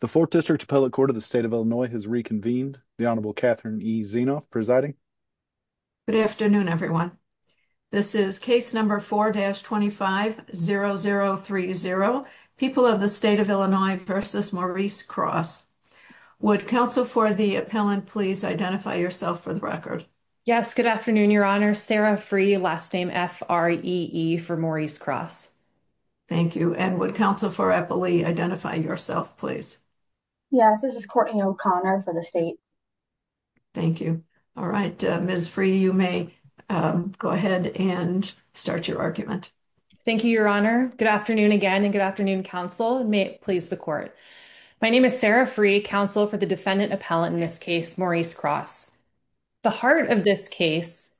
The 4th District Appellate Court of the State of Illinois has reconvened. The Honorable Catherine E. Zienoff presiding. Good afternoon everyone. This is case number 4-25-0030, People of the State of Illinois v. Maurice Cross. Would counsel for the appellant please identify yourself for the record? Yes, good afternoon your honors. Sarah Free, last name F-R-E-E for Maurice Cross. Thank you. And would counsel for Eppley identify yourself please? Yes, this is Courtney O'Connor for the state. Thank you. All right, Ms. Free, you may go ahead and start your argument. Thank you your honor. Good afternoon again and good afternoon counsel and may it please the court. My name is Sarah Free, counsel for the defendant appellant in this case, Maurice Cross. The heart of this case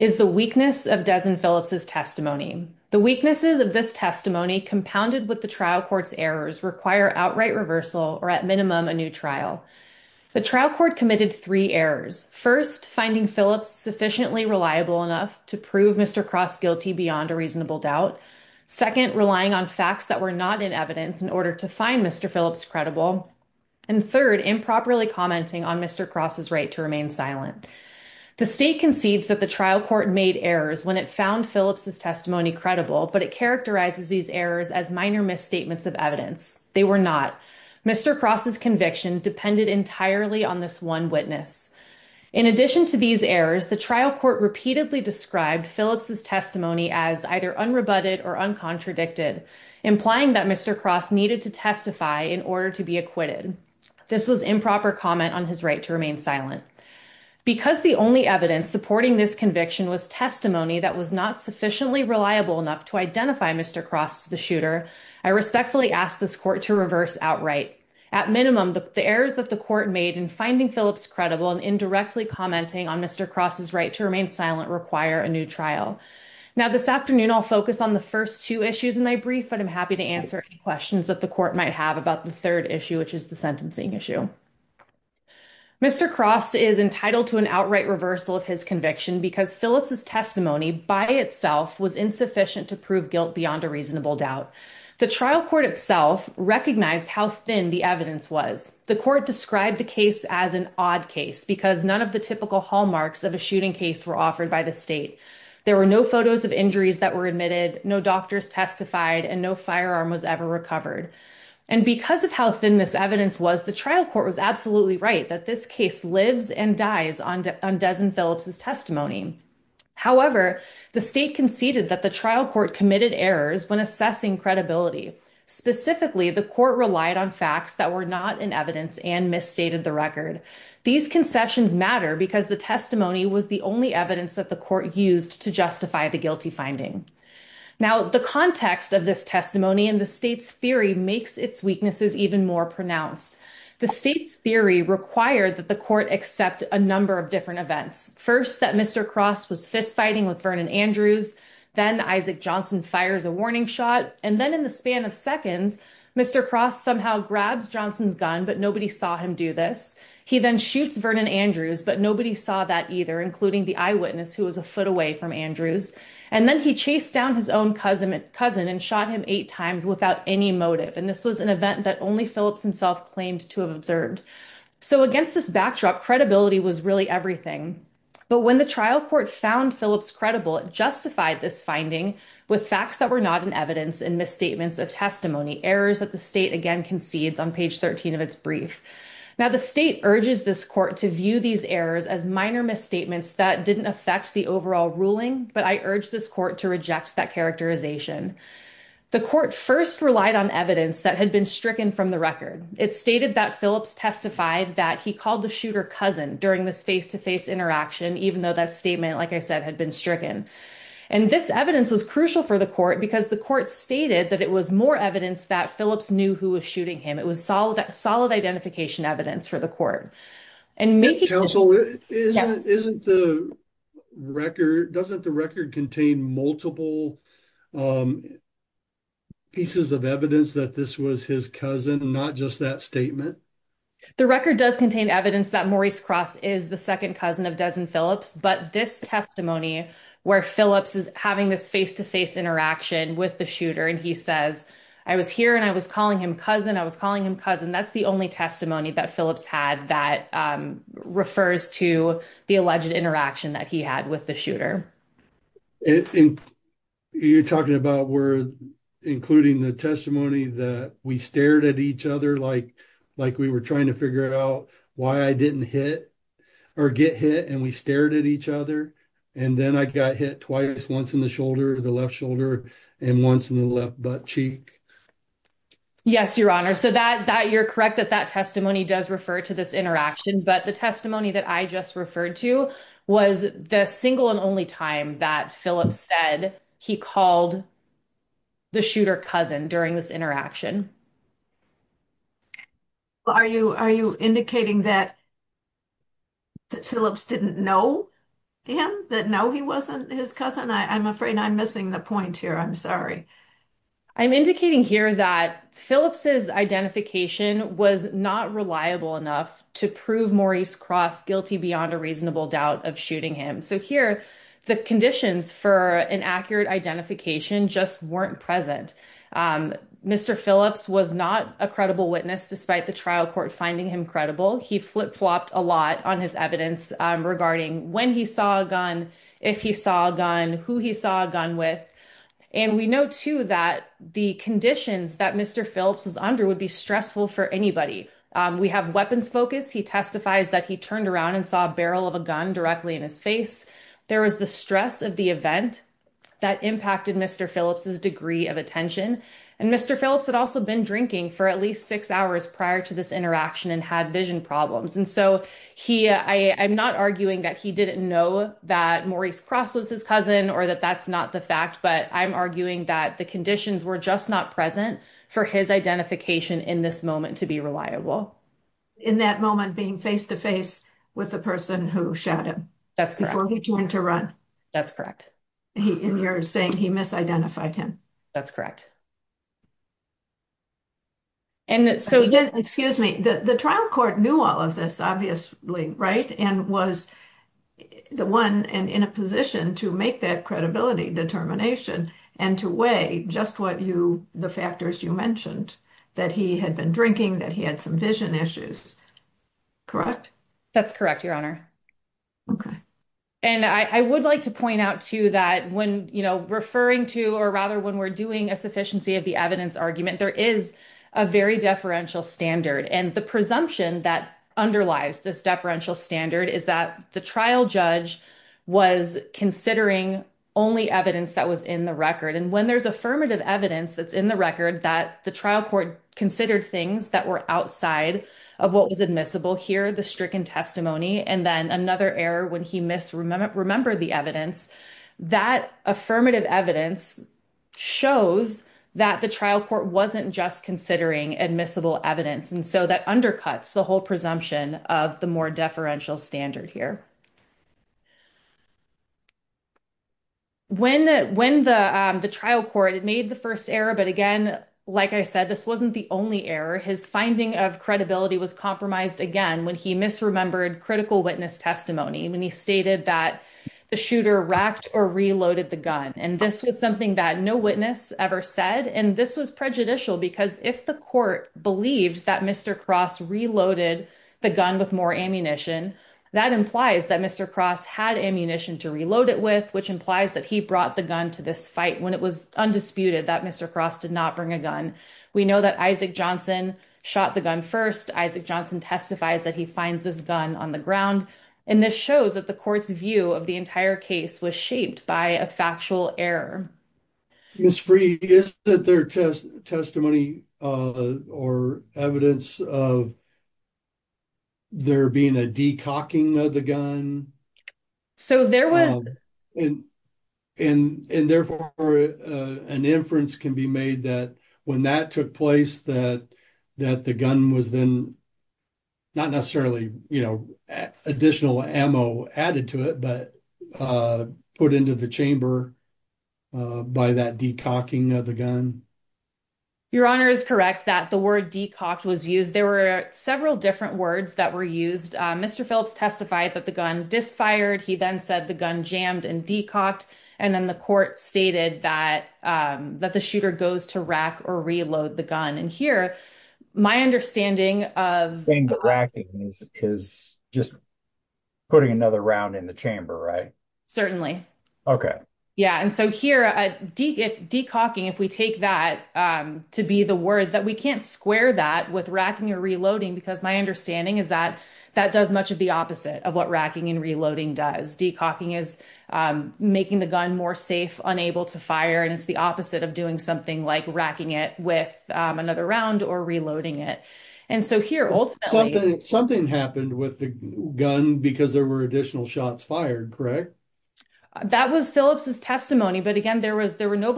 is the weakness of Des and Phillips' testimony. The weaknesses of this testimony compounded with the trial court's errors require outright reversal or at minimum a new trial. The trial court committed three errors. First, finding Phillips sufficiently reliable enough to prove Mr. Cross guilty beyond a reasonable doubt. Second, relying on facts that were not in evidence in order to find Mr. Phillips credible. And third, improperly commenting on Mr. Cross' right to remain silent. The state concedes that the trial court made errors when it found Phillips' testimony credible, but it characterizes these errors as minor misstatements of evidence. They were not. Mr. Cross' conviction depended entirely on this one witness. In addition to these errors, the trial court repeatedly described Phillips' testimony as either unrebutted or uncontradicted, implying that Mr. Cross needed to testify in order to be acquitted. This was improper comment on his right to remain silent. Because the only evidence supporting this conviction was testimony that was not sufficiently reliable enough to identify Mr. Cross the shooter, I respectfully ask this court to reverse outright. At minimum, the errors that the court made in finding Phillips credible and indirectly commenting on Mr. Cross' right to remain silent require a new trial. Now this afternoon, I'll focus on the first two issues in my brief, but I'm happy to answer any questions that the court might have about the third issue, which is the sentencing issue. Mr. Cross is entitled to an outright reversal of his conviction because Phillips' testimony by itself was insufficient to prove guilt beyond a reasonable doubt. The trial court itself recognized how thin the evidence was. The court described the case as an odd case because none of the typical hallmarks of a shooting case were offered by the state. There were no photos of injuries that were admitted, no doctors testified, and no firearm was ever recovered. And because of how thin this evidence was, the trial court was absolutely right that this case lives and dies on Des and Phillips' testimony. However, the state conceded that the trial court committed errors when assessing credibility. Specifically, the court relied on facts that were not in evidence and misstated the record. These concessions matter because the testimony was the only evidence that the court used to justify the guilty finding. Now, the context of this testimony and the state's theory makes its weaknesses even more pronounced. The state's theory required that the court accept a number of different events. First, that Mr. Cross was fistfighting with Vernon Andrews, then Isaac Johnson fires a warning shot, and then in the span of seconds, Mr. Cross somehow grabs Johnson's gun, but nobody saw him do this. He then shoots Vernon Andrews, but nobody saw that either, including the eyewitness who was a foot away from Andrews. And then he chased down his own cousin and shot him eight times without any motive. And this was an event that only Phillips himself claimed to have observed. So against this backdrop, credibility was really everything. But when the trial court found Phillips credible, it justified this finding with facts that were not in evidence and misstatements of testimony, errors that the state again concedes on page 13 of its brief. Now, the state urges this court to view these errors as minor misstatements that didn't affect the overall ruling, but I urge this court to reject that characterization. The court first relied on evidence that had been stricken from the record. It stated that Phillips testified that he called the shooter cousin during this face-to-face interaction, even though that statement, like I said, had been stricken. And this evidence was crucial for the court because the court stated that it was more evidence that Phillips knew who was shooting him. It was solid identification evidence for the court. Counsel, doesn't the record contain multiple pieces of evidence that this was his cousin and not just that statement? The record does contain evidence that Maurice Cross is the second cousin of Des and Phillips, but this testimony where Phillips is having this face-to-face interaction with the shooter and he says, I was here and I was calling him cousin, I was calling him cousin, that's the only testimony that Phillips had that refers to the alleged interaction that he had with the shooter. You're talking about including the testimony that we stared at each other like we were trying to figure out why I didn't hit or get hit and we stared at each other and then I got hit twice, once in the shoulder, the left shoulder, and once in the left butt cheek? Yes, your honor. So you're correct that that testimony does refer to this interaction, but the testimony that I just referred to was the single and only time that Phillips said he called the shooter cousin during this interaction. Are you indicating that Phillips didn't know him, that no, he wasn't his cousin? I'm afraid I'm missing the point here. I'm sorry. I'm indicating here that Phillips's identification was not reliable enough to prove Maurice Cross guilty beyond a reasonable doubt of shooting him. So here, the conditions for an accurate identification just weren't present. Mr. Phillips, was not a credible witness despite the trial court finding him credible. He flip-flopped a lot on his evidence regarding when he saw a gun, if he saw a gun, who he saw a gun with. And we know too that the conditions that Mr. Phillips was under would be stressful for anybody. We have weapons focus. He testifies that he turned around and saw a barrel of a gun directly in his face. There was the stress of the event that impacted Mr. Phillips's degree of attention. And Mr. Phillips had also been drinking for at least six hours prior to this interaction and had vision problems. And so I'm not arguing that he didn't know that Maurice Cross was his cousin or that that's not the fact, but I'm arguing that the conditions were just not present for his identification in this moment to be reliable. In that moment being face-to-face with the person who shot him. That's correct. Before he turned to run. That's correct. And you're saying he misidentified him. That's correct. And so again, excuse me, the trial court knew all of this obviously, right? And was the one in a position to make that credibility determination and to weigh just what you, the factors you mentioned, that he had been drinking, that he had some vision issues. Correct? That's correct, Your Honor. Okay. And I would like to point out too that when, you know, referring to, or rather when we're doing a sufficiency of the evidence argument, there is a very deferential standard. And the presumption that underlies this deferential standard is that the trial judge was considering only evidence that was in the record. And when there's affirmative evidence that's in the record that the trial court considered things that were outside of what was admissible here, the stricken testimony, and then another error when he remembered the evidence, that affirmative evidence shows that the trial court wasn't just considering admissible evidence. And so that undercuts the whole presumption of the more deferential standard here. When the trial court made the first error, but again, like I said, this wasn't the only error. His finding of credibility was compromised again, when he misremembered critical witness testimony, when he stated that the shooter racked or reloaded the gun. And this was something that no witness ever said. And this was prejudicial because if the court believed that Mr. Cross reloaded the gun with more ammunition, that implies that Mr. Cross had ammunition to reload it with, which implies that he brought the gun to this fight when it was undisputed that Mr. Cross did not bring a gun. We know that Isaac Johnson shot the gun first. Isaac Johnson testifies that he finds his gun on the ground. And this shows that the court's view of the entire case was shaped by a factual error. Mr. Freed, is that their testimony or evidence of there being a de-cocking of the gun? So there was... And therefore, an inference can be made that when that took place, that the gun was then not necessarily additional ammo added to it, but put into the chamber by that de-cocking of the gun. Your Honor is correct that the word de-cocked was used. There were several different words that were and de-cocked. And then the court stated that the shooter goes to rack or reload the gun. And here, my understanding of... You're saying that racking is just putting another round in the chamber, right? Certainly. Yeah. And so here, de-cocking, if we take that to be the word that we can't square that with racking or reloading, because my understanding is that that does much of the opposite of what making the gun more safe, unable to fire. And it's the opposite of doing something like racking it with another round or reloading it. And so here, ultimately... Something happened with the gun because there were additional shots fired, correct? That was Phillips's testimony. But again, there was no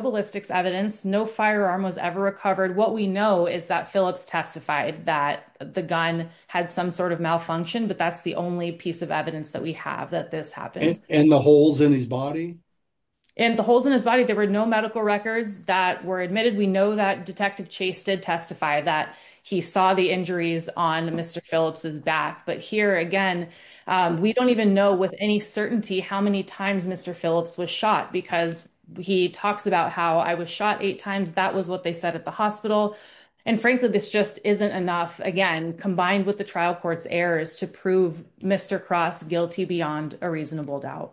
ballistics evidence. No firearm was ever recovered. What we know is that Phillips testified that the gun had some sort of malfunction, but that's the only piece of evidence that we have that this happened. And the holes in his body? And the holes in his body, there were no medical records that were admitted. We know that Detective Chase did testify that he saw the injuries on Mr. Phillips's back. But here, again, we don't even know with any certainty how many times Mr. Phillips was shot because he talks about how, I was shot eight times. That was what they said at the hospital. And frankly, this just isn't enough, again, combined with the trial court's errors to prove Mr. Cross guilty beyond a reasonable doubt.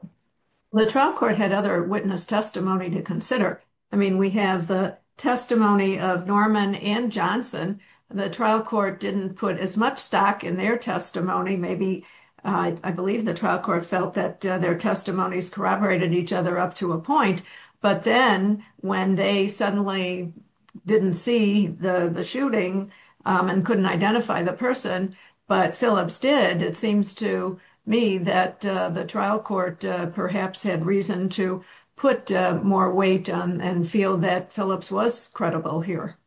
The trial court had other witness testimony to consider. I mean, we have the testimony of Norman and Johnson. The trial court didn't put as much stock in their testimony. Maybe, I believe the trial court felt that their testimonies corroborated each other up to a point. But then, when they suddenly didn't see the shooting and couldn't identify the person, but Phillips did, it seems to me that the trial court perhaps had reason to put more weight and feel that Phillips was credible here.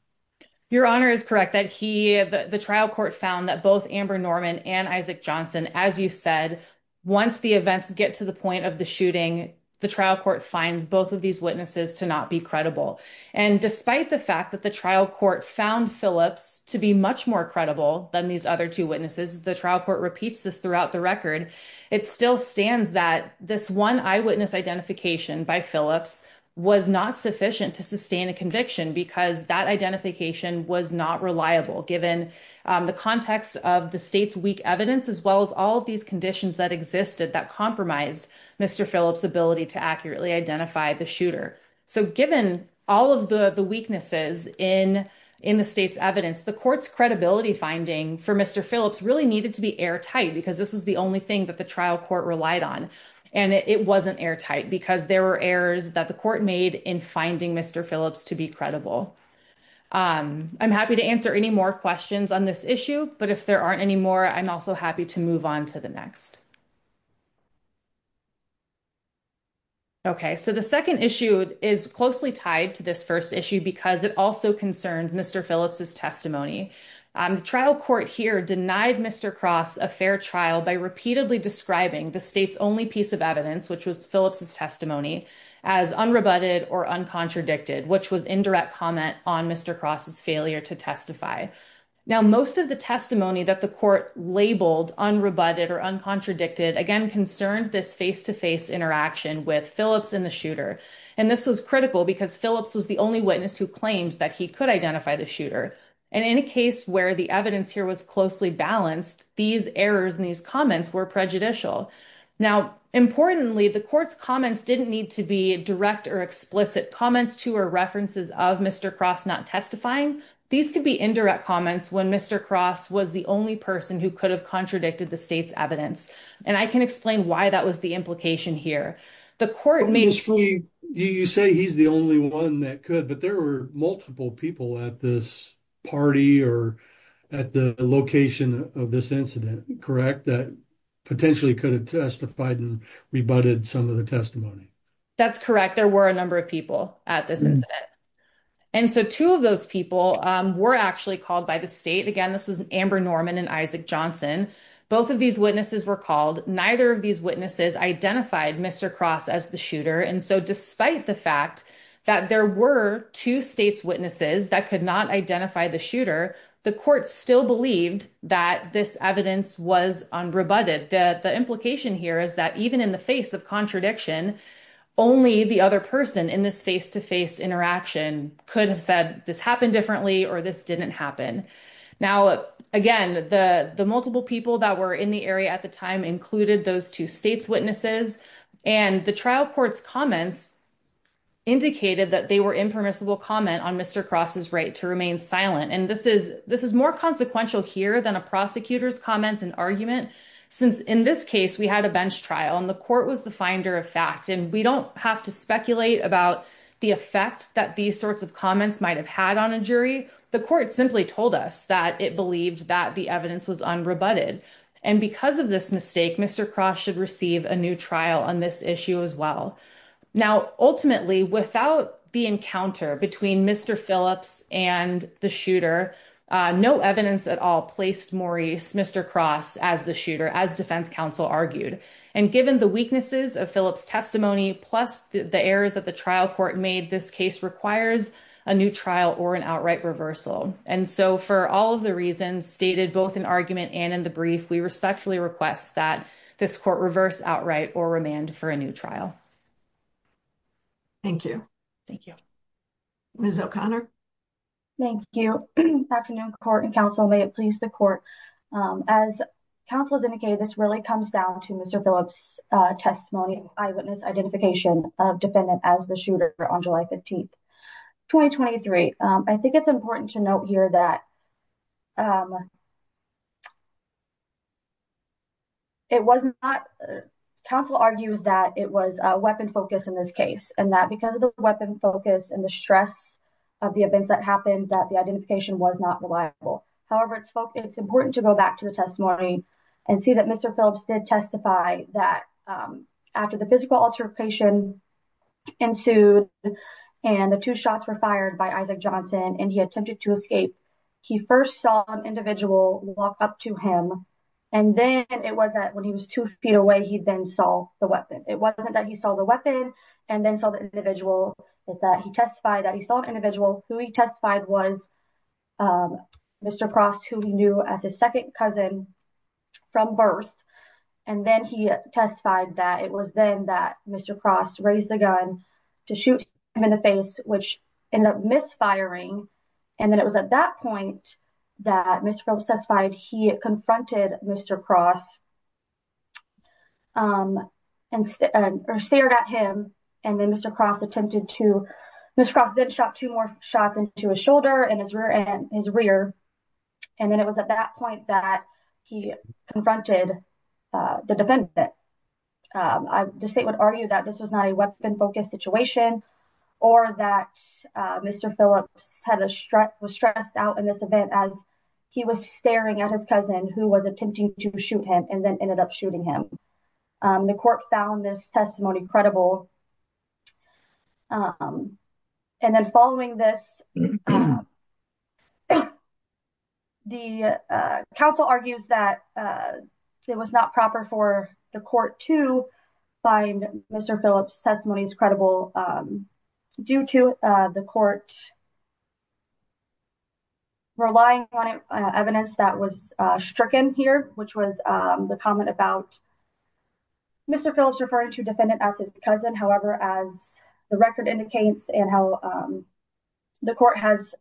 Your Honor is correct. The trial court found that both Amber Norman and Isaac Johnson, as you said, once the events get to the point of the shooting, the trial court finds both of these witnesses to not be credible. And despite the fact that the trial court found Phillips to be much more credible than these other two witnesses, the trial court repeats this throughout the record, it still stands that this one eyewitness identification by Phillips was not sufficient to sustain a conviction because that identification was not reliable, given the context of the state's weak evidence, as well as all of these conditions that existed that compromised Mr. Phillips' ability to accurately identify the shooter. So given all of the weaknesses in the state's evidence, the court's credibility finding for Mr. Phillips really needed to be airtight because this was the only thing that the trial court relied on. And it wasn't airtight because there were errors that the court made in finding Mr. Phillips to be credible. I'm happy to answer any more questions on this issue, but if there are any more, I'm also happy to move on to the next. Okay, so the second issue is closely tied to this first issue because it also concerns Mr. Phillips' testimony. The trial court here denied Mr. Cross a fair trial by repeatedly describing the state's only piece of evidence, which was Phillips' testimony, as unrebutted or uncontradicted, which was indirect comment on Mr. Cross's failure to testify. Now, most of the testimony that the court labeled unrebutted or uncontradicted, again, concerned this face-to-face interaction with Phillips and the shooter. And this was critical because Phillips was the only witness who claimed that he could identify the shooter. And in a case where the evidence here was closely balanced, these errors and these comments were prejudicial. Now, importantly, the court's comments didn't need to be direct or explicit comments to or references of Mr. Cross not testifying. These could be indirect comments when Mr. Cross was the only person who could have contradicted the state's evidence. And I can explain why that was the implication here. The court made... You say he's the only one that could, but there were multiple people at this party or at the location of this incident, correct, that potentially could have testified and rebutted some of the testimony. That's correct. There were a number of people at this incident. And so two of those people were actually called by the state. Again, this was Amber Norman and Isaac Johnson. Both of these witnesses were called. Neither of these witnesses identified Mr. Cross as the shooter. And so despite the fact that there were two states' witnesses that could not identify the shooter, the court still believed that this evidence was unrebutted. The implication here is that even in the face of contradiction, only the other person in this face-to-face interaction could have said this happened differently or this didn't happen. Now, again, the multiple people that were in the area at the time included those two states' witnesses. And the trial court's comments indicated that they were impermissible comment on Mr. Cross's right to remain silent. And this is more consequential here than a prosecutor's comments and argument, since in this case, we had a bench trial and the court was the finder of fact. And we don't have to speculate about the effect that these sorts of comments might have had on a jury. The court simply told us that it believed that the evidence was unrebutted. And because of this mistake, Mr. Cross should receive a new trial on this issue as well. Now, ultimately, without the encounter between Mr. Phillips and the shooter, no evidence at all placed Maurice Mr. Cross as the shooter, as defense counsel argued. And given the weaknesses of Phillips' testimony, plus the errors that the trial court made, this case requires a new trial or an outright reversal. And so for all of the reasons stated both in argument and in the brief, we respectfully request that this court reverse outright or remand for a new trial. Thank you. Thank you. Ms. O'Connor. Thank you. Afternoon, court and counsel. May it please the court. As counsel has indicated, this really comes down to Mr. Phillips' testimony and eyewitness identification of defendant as the shooter on July 15th, 2023. I think it's important to note here that it was not counsel argues that it was a weapon focus in this case and that because of the weapon focus and the stress of the events that happened that the identification was not reliable. However, it's important to go back to the testimony and see that Mr. Phillips did testify that after the physical altercation ensued, and the two shots were fired by Isaac Johnson, and he attempted to escape, he first saw an individual walk up to him. And then it was that when he was two feet away, he then saw the weapon. It wasn't that he saw the weapon and then saw the individual. It's that he testified that he saw an individual who he testified was Mr. Cross, who he knew as his second cousin from birth. And then he testified that it was then that Mr. Cross raised the gun to shoot him in the face, which ended up misfiring. And then it was at that point that Mr. Phillips testified he confronted Mr. Cross and stared at him. And then Mr. Cross attempted to, Mr. Cross then shot two more shots into his shoulder and his rear end, his rear. And then it was at that point that he confronted the defendant. The state would argue that this was not a weapon focused situation, or that Mr. Phillips was stressed out in this event as he was staring at his cousin who was attempting to shoot him and then ended up shooting him. The court found this testimony credible. And then following this, the counsel argues that it was not proper for the court to find Mr. Phillips' testimonies credible due to the court relying on evidence that was stricken here, which was the comment about Mr. Phillips referring to defendant as his cousin. However, as the record indicates and how the court has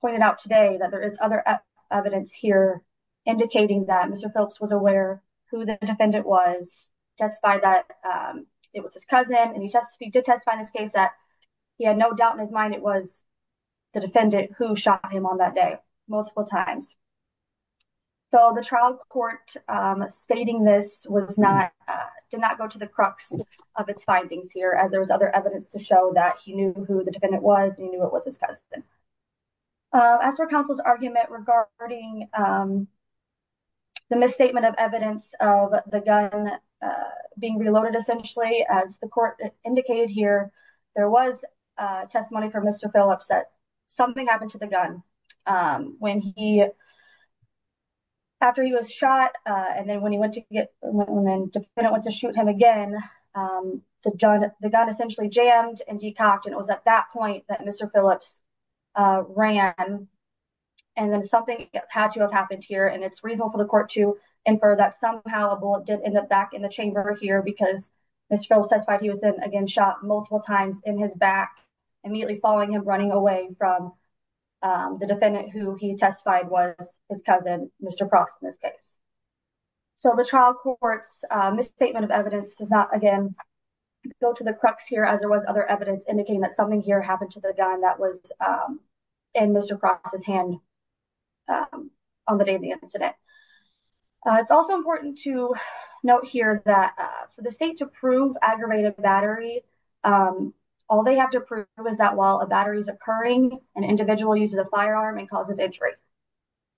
pointed out today that there is other evidence here indicating that Mr. Phillips was aware who the defendant was, testified that it was his cousin and he did testify in this case that he had no doubt in his mind it was the defendant who shot him on that day multiple times. So the trial court stating this did not go to the crux of its findings here as there was other evidence to show that he knew who the defendant was and he knew it was his cousin. As for counsel's argument regarding the misstatement of evidence of the gun being reloaded essentially, as the court indicated here, there was testimony from Mr. Phillips that something happened to the gun when he, after he was shot and then when he went to get, when the defendant went to shoot him again, the gun essentially jammed and decocked and it was at that point that Mr. Phillips ran and then something had to have happened here and it's reasonable for the court to infer that somehow a bullet did end up back in the chamber here because Mr. Phillips testified he was then again shot multiple times in his back immediately following him running away from the defendant who he testified was his cousin, Mr. Crofts in this case. So the trial court's misstatement of evidence does not again go to the crux here as there was other evidence indicating that something here happened to the gun that was in Mr. Crofts' hand on the day of the incident. It's also important to note here that for the state to prove aggravated battery, all they have to prove is that while a battery is occurring an individual uses a firearm and causes injury.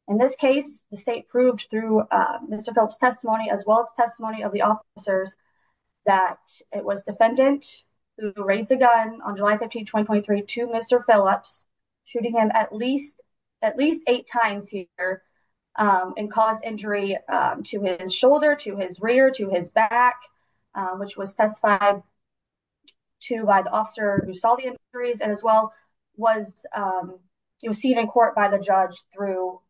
In this case, the state proved through Mr. Phillips' testimony as well as testimony of the officers that it was defendant who raised a gun on July 15, 2023 to Mr. Phillips, shooting him at least at least eight times here and caused injury to his shoulder, to his rear, to his back, which was testified to by the officer who saw the injuries and as well was, it was seen in court by the judge through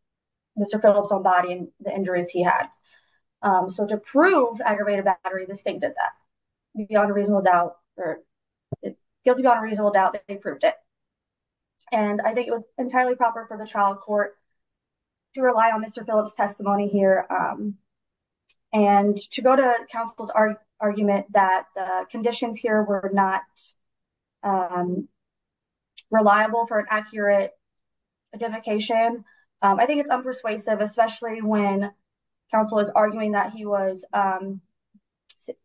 Mr. Phillips' own body and the injuries he had. So to prove aggravated battery, the state did that. You'd be on a reasonable doubt or guilty on a reasonable doubt that they proved it. And I think it was entirely proper for the trial court to rely on Mr. Phillips' testimony here and to go to counsel's argument that the conditions here were not reliable for an accurate identification. I think it's unpersuasive, especially when counsel is arguing that he was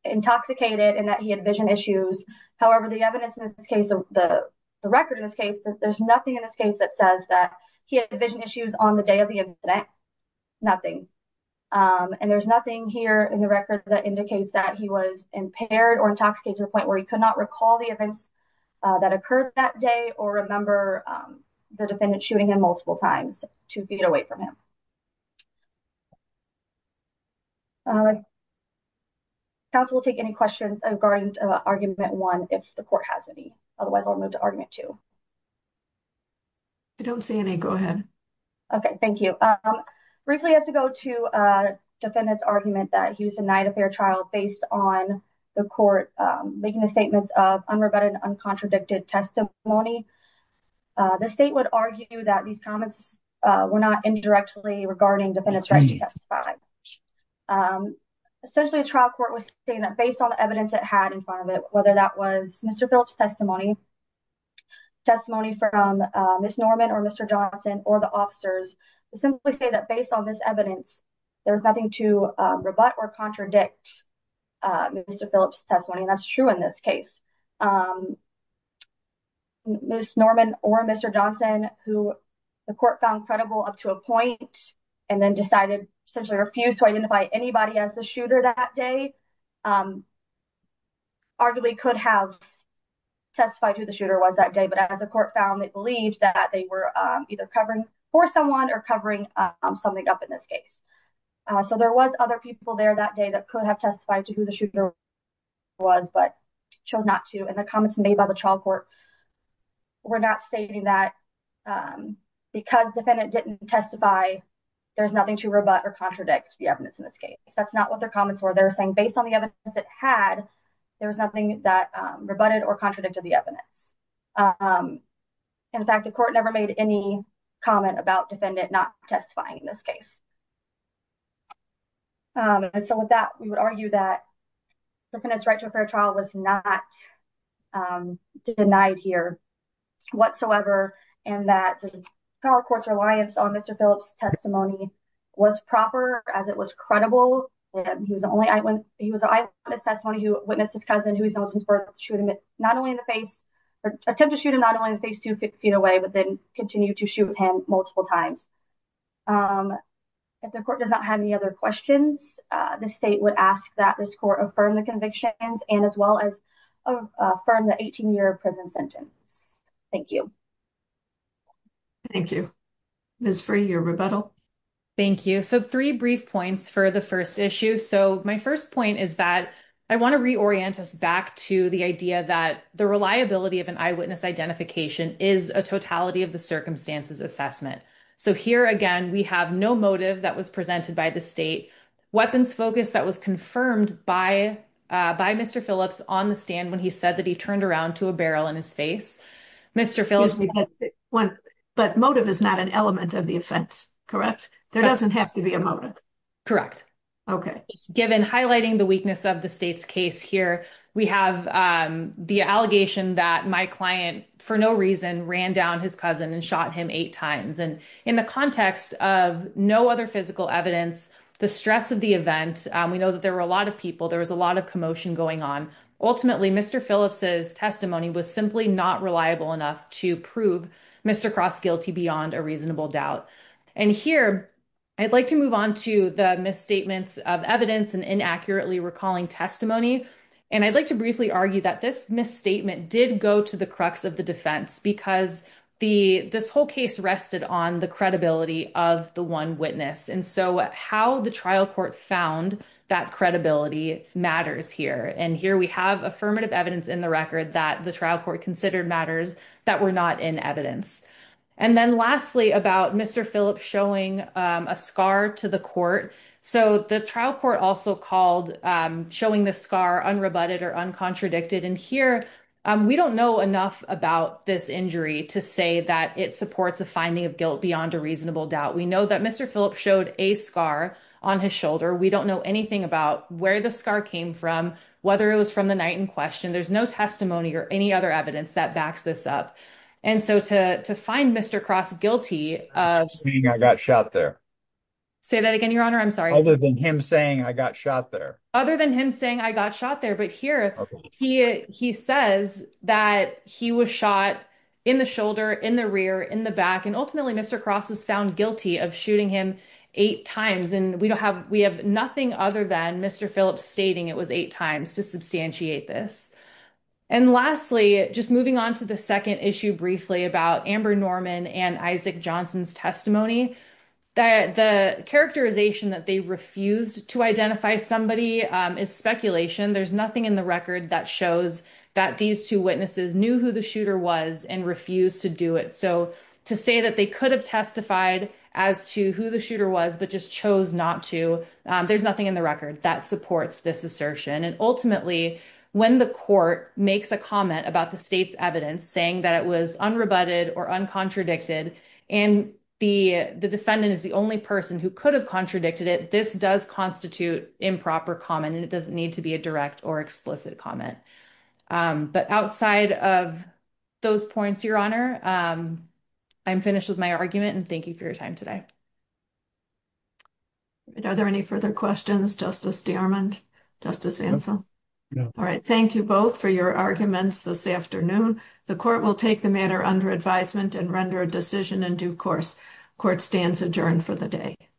intoxicated and that he had vision issues. However, the evidence in this case, the record in this case, there's nothing in this case that says that he had vision issues on the day of the incident, nothing. And there's nothing here in the record that indicates that he was impaired or intoxicated to the point where he could not recall the events that occurred that day or remember the defendant shooting him multiple times two feet away from him. Counsel will take any questions regarding argument one, if the court has any, otherwise I'll move to argument two. I don't see any, go ahead. Okay, thank you. Briefly, I have to go to defendant's argument that he was denied a fair trial based on the court making the statements of unrebutted, uncontradicted testimony. The state would argue that these comments were not indirectly regarding defendant's right to testify. Essentially, the trial court was saying that based on the evidence it had in front of it, whether that was Mr. Phillips' testimony, testimony from Ms. Norman or Mr. Johnson or the officers, simply say that based on this evidence, there's nothing to rebut or contradict Mr. Phillips' testimony, and that's true in this case. Ms. Norman or Mr. Johnson, who the court found credible up to a point and then decided, essentially refused to identify anybody as the shooter that day, arguably could have testified who the shooter was that day, but as the court found, they believed that they were either covering for someone or covering something up in this case. So, there was other people there that day that could have testified to who the shooter was, but chose not to, and the comments made by the trial court were not stating that because defendant didn't testify, there's nothing to rebut or contradict the evidence in this case. That's not what their comments were. They were saying based on the evidence it had, there was nothing that rebutted or contradicted the evidence. In fact, the court never made any comment about defendant not testifying in this case. And so, with that, we would argue that the defendant's right to a fair trial was not denied here whatsoever, and that the trial court's reliance on Mr. Phillips' testimony was proper as it was credible. He was the only eyewitness testimony who witnessed his cousin, who he's known since birth, attempt to shoot him not only in his face two feet away, but then continue to shoot him multiple times. If the court does not have any other questions, the state would ask that this court affirm the convictions and as well as affirm the 18-year prison sentence. Thank you. Thank you. Ms. Free, your rebuttal. Thank you. So, three brief points for the first issue. So, my first point is that I want to a totality of the circumstances assessment. So, here again, we have no motive that was presented by the state. Weapons focus that was confirmed by Mr. Phillips on the stand when he said that he turned around to a barrel in his face. Mr. Phillips... But motive is not an element of the offense, correct? There doesn't have to be a motive? Correct. Okay. Given highlighting the weakness of the state's case here, we have the allegation that my client, for no reason, ran down his cousin and shot him eight times. And in the context of no other physical evidence, the stress of the event, we know that there were a lot of people, there was a lot of commotion going on. Ultimately, Mr. Phillips' testimony was simply not reliable enough to prove Mr. Cross guilty beyond a reasonable doubt. And here, I'd like to move on to the misstatements of evidence and inaccurately recalling testimony. And I'd like to briefly argue that this misstatement did go to the crux of the defense because this whole case rested on the credibility of the one witness. And so, how the trial court found that credibility matters here. And here, we have affirmative evidence in the record that the trial court considered matters that were not in evidence. And then lastly, about Mr. Phillips showing a scar to the court. So, the trial court also called showing the scar unrebutted or uncontradicted. And here, we don't know enough about this injury to say that it supports a finding of guilt beyond a reasonable doubt. We know that Mr. Phillips showed a scar on his shoulder. We don't know anything about where the scar came from, whether it was from the night in question. There's no testimony or any other evidence that backs this up. And so, to find Mr. Cross guilty- Other than him saying I got shot there. Say that again, your honor. I'm sorry. Other than him saying I got shot there. Other than him saying I got shot there. But here, he says that he was shot in the shoulder, in the rear, in the back. And ultimately, Mr. Cross was found guilty of shooting him eight times. And we have nothing other than Mr. Phillips stating it was eight times to substantiate this. And lastly, just moving on to the second issue briefly about Amber Norman and Isaac Johnson's testimony, that the characterization that they refused to identify somebody is speculation. There's nothing in the record that shows that these two witnesses knew who the shooter was and refused to do it. So, to say that they could have testified as to who the shooter was but just chose not to, there's nothing in the record that supports this assertion. And ultimately, when the court makes a comment about the state's evidence saying that it was unrebutted or uncontradicted, and the defendant is the only person who could have contradicted it, this does constitute improper comment, and it doesn't need to be a direct or explicit comment. But outside of those points, your honor, I'm finished with my argument and thank you for your time today. All right. Thank you both for your arguments this afternoon. The court will take the matter under advisement and render a decision in due course. Court stands adjourned for the day.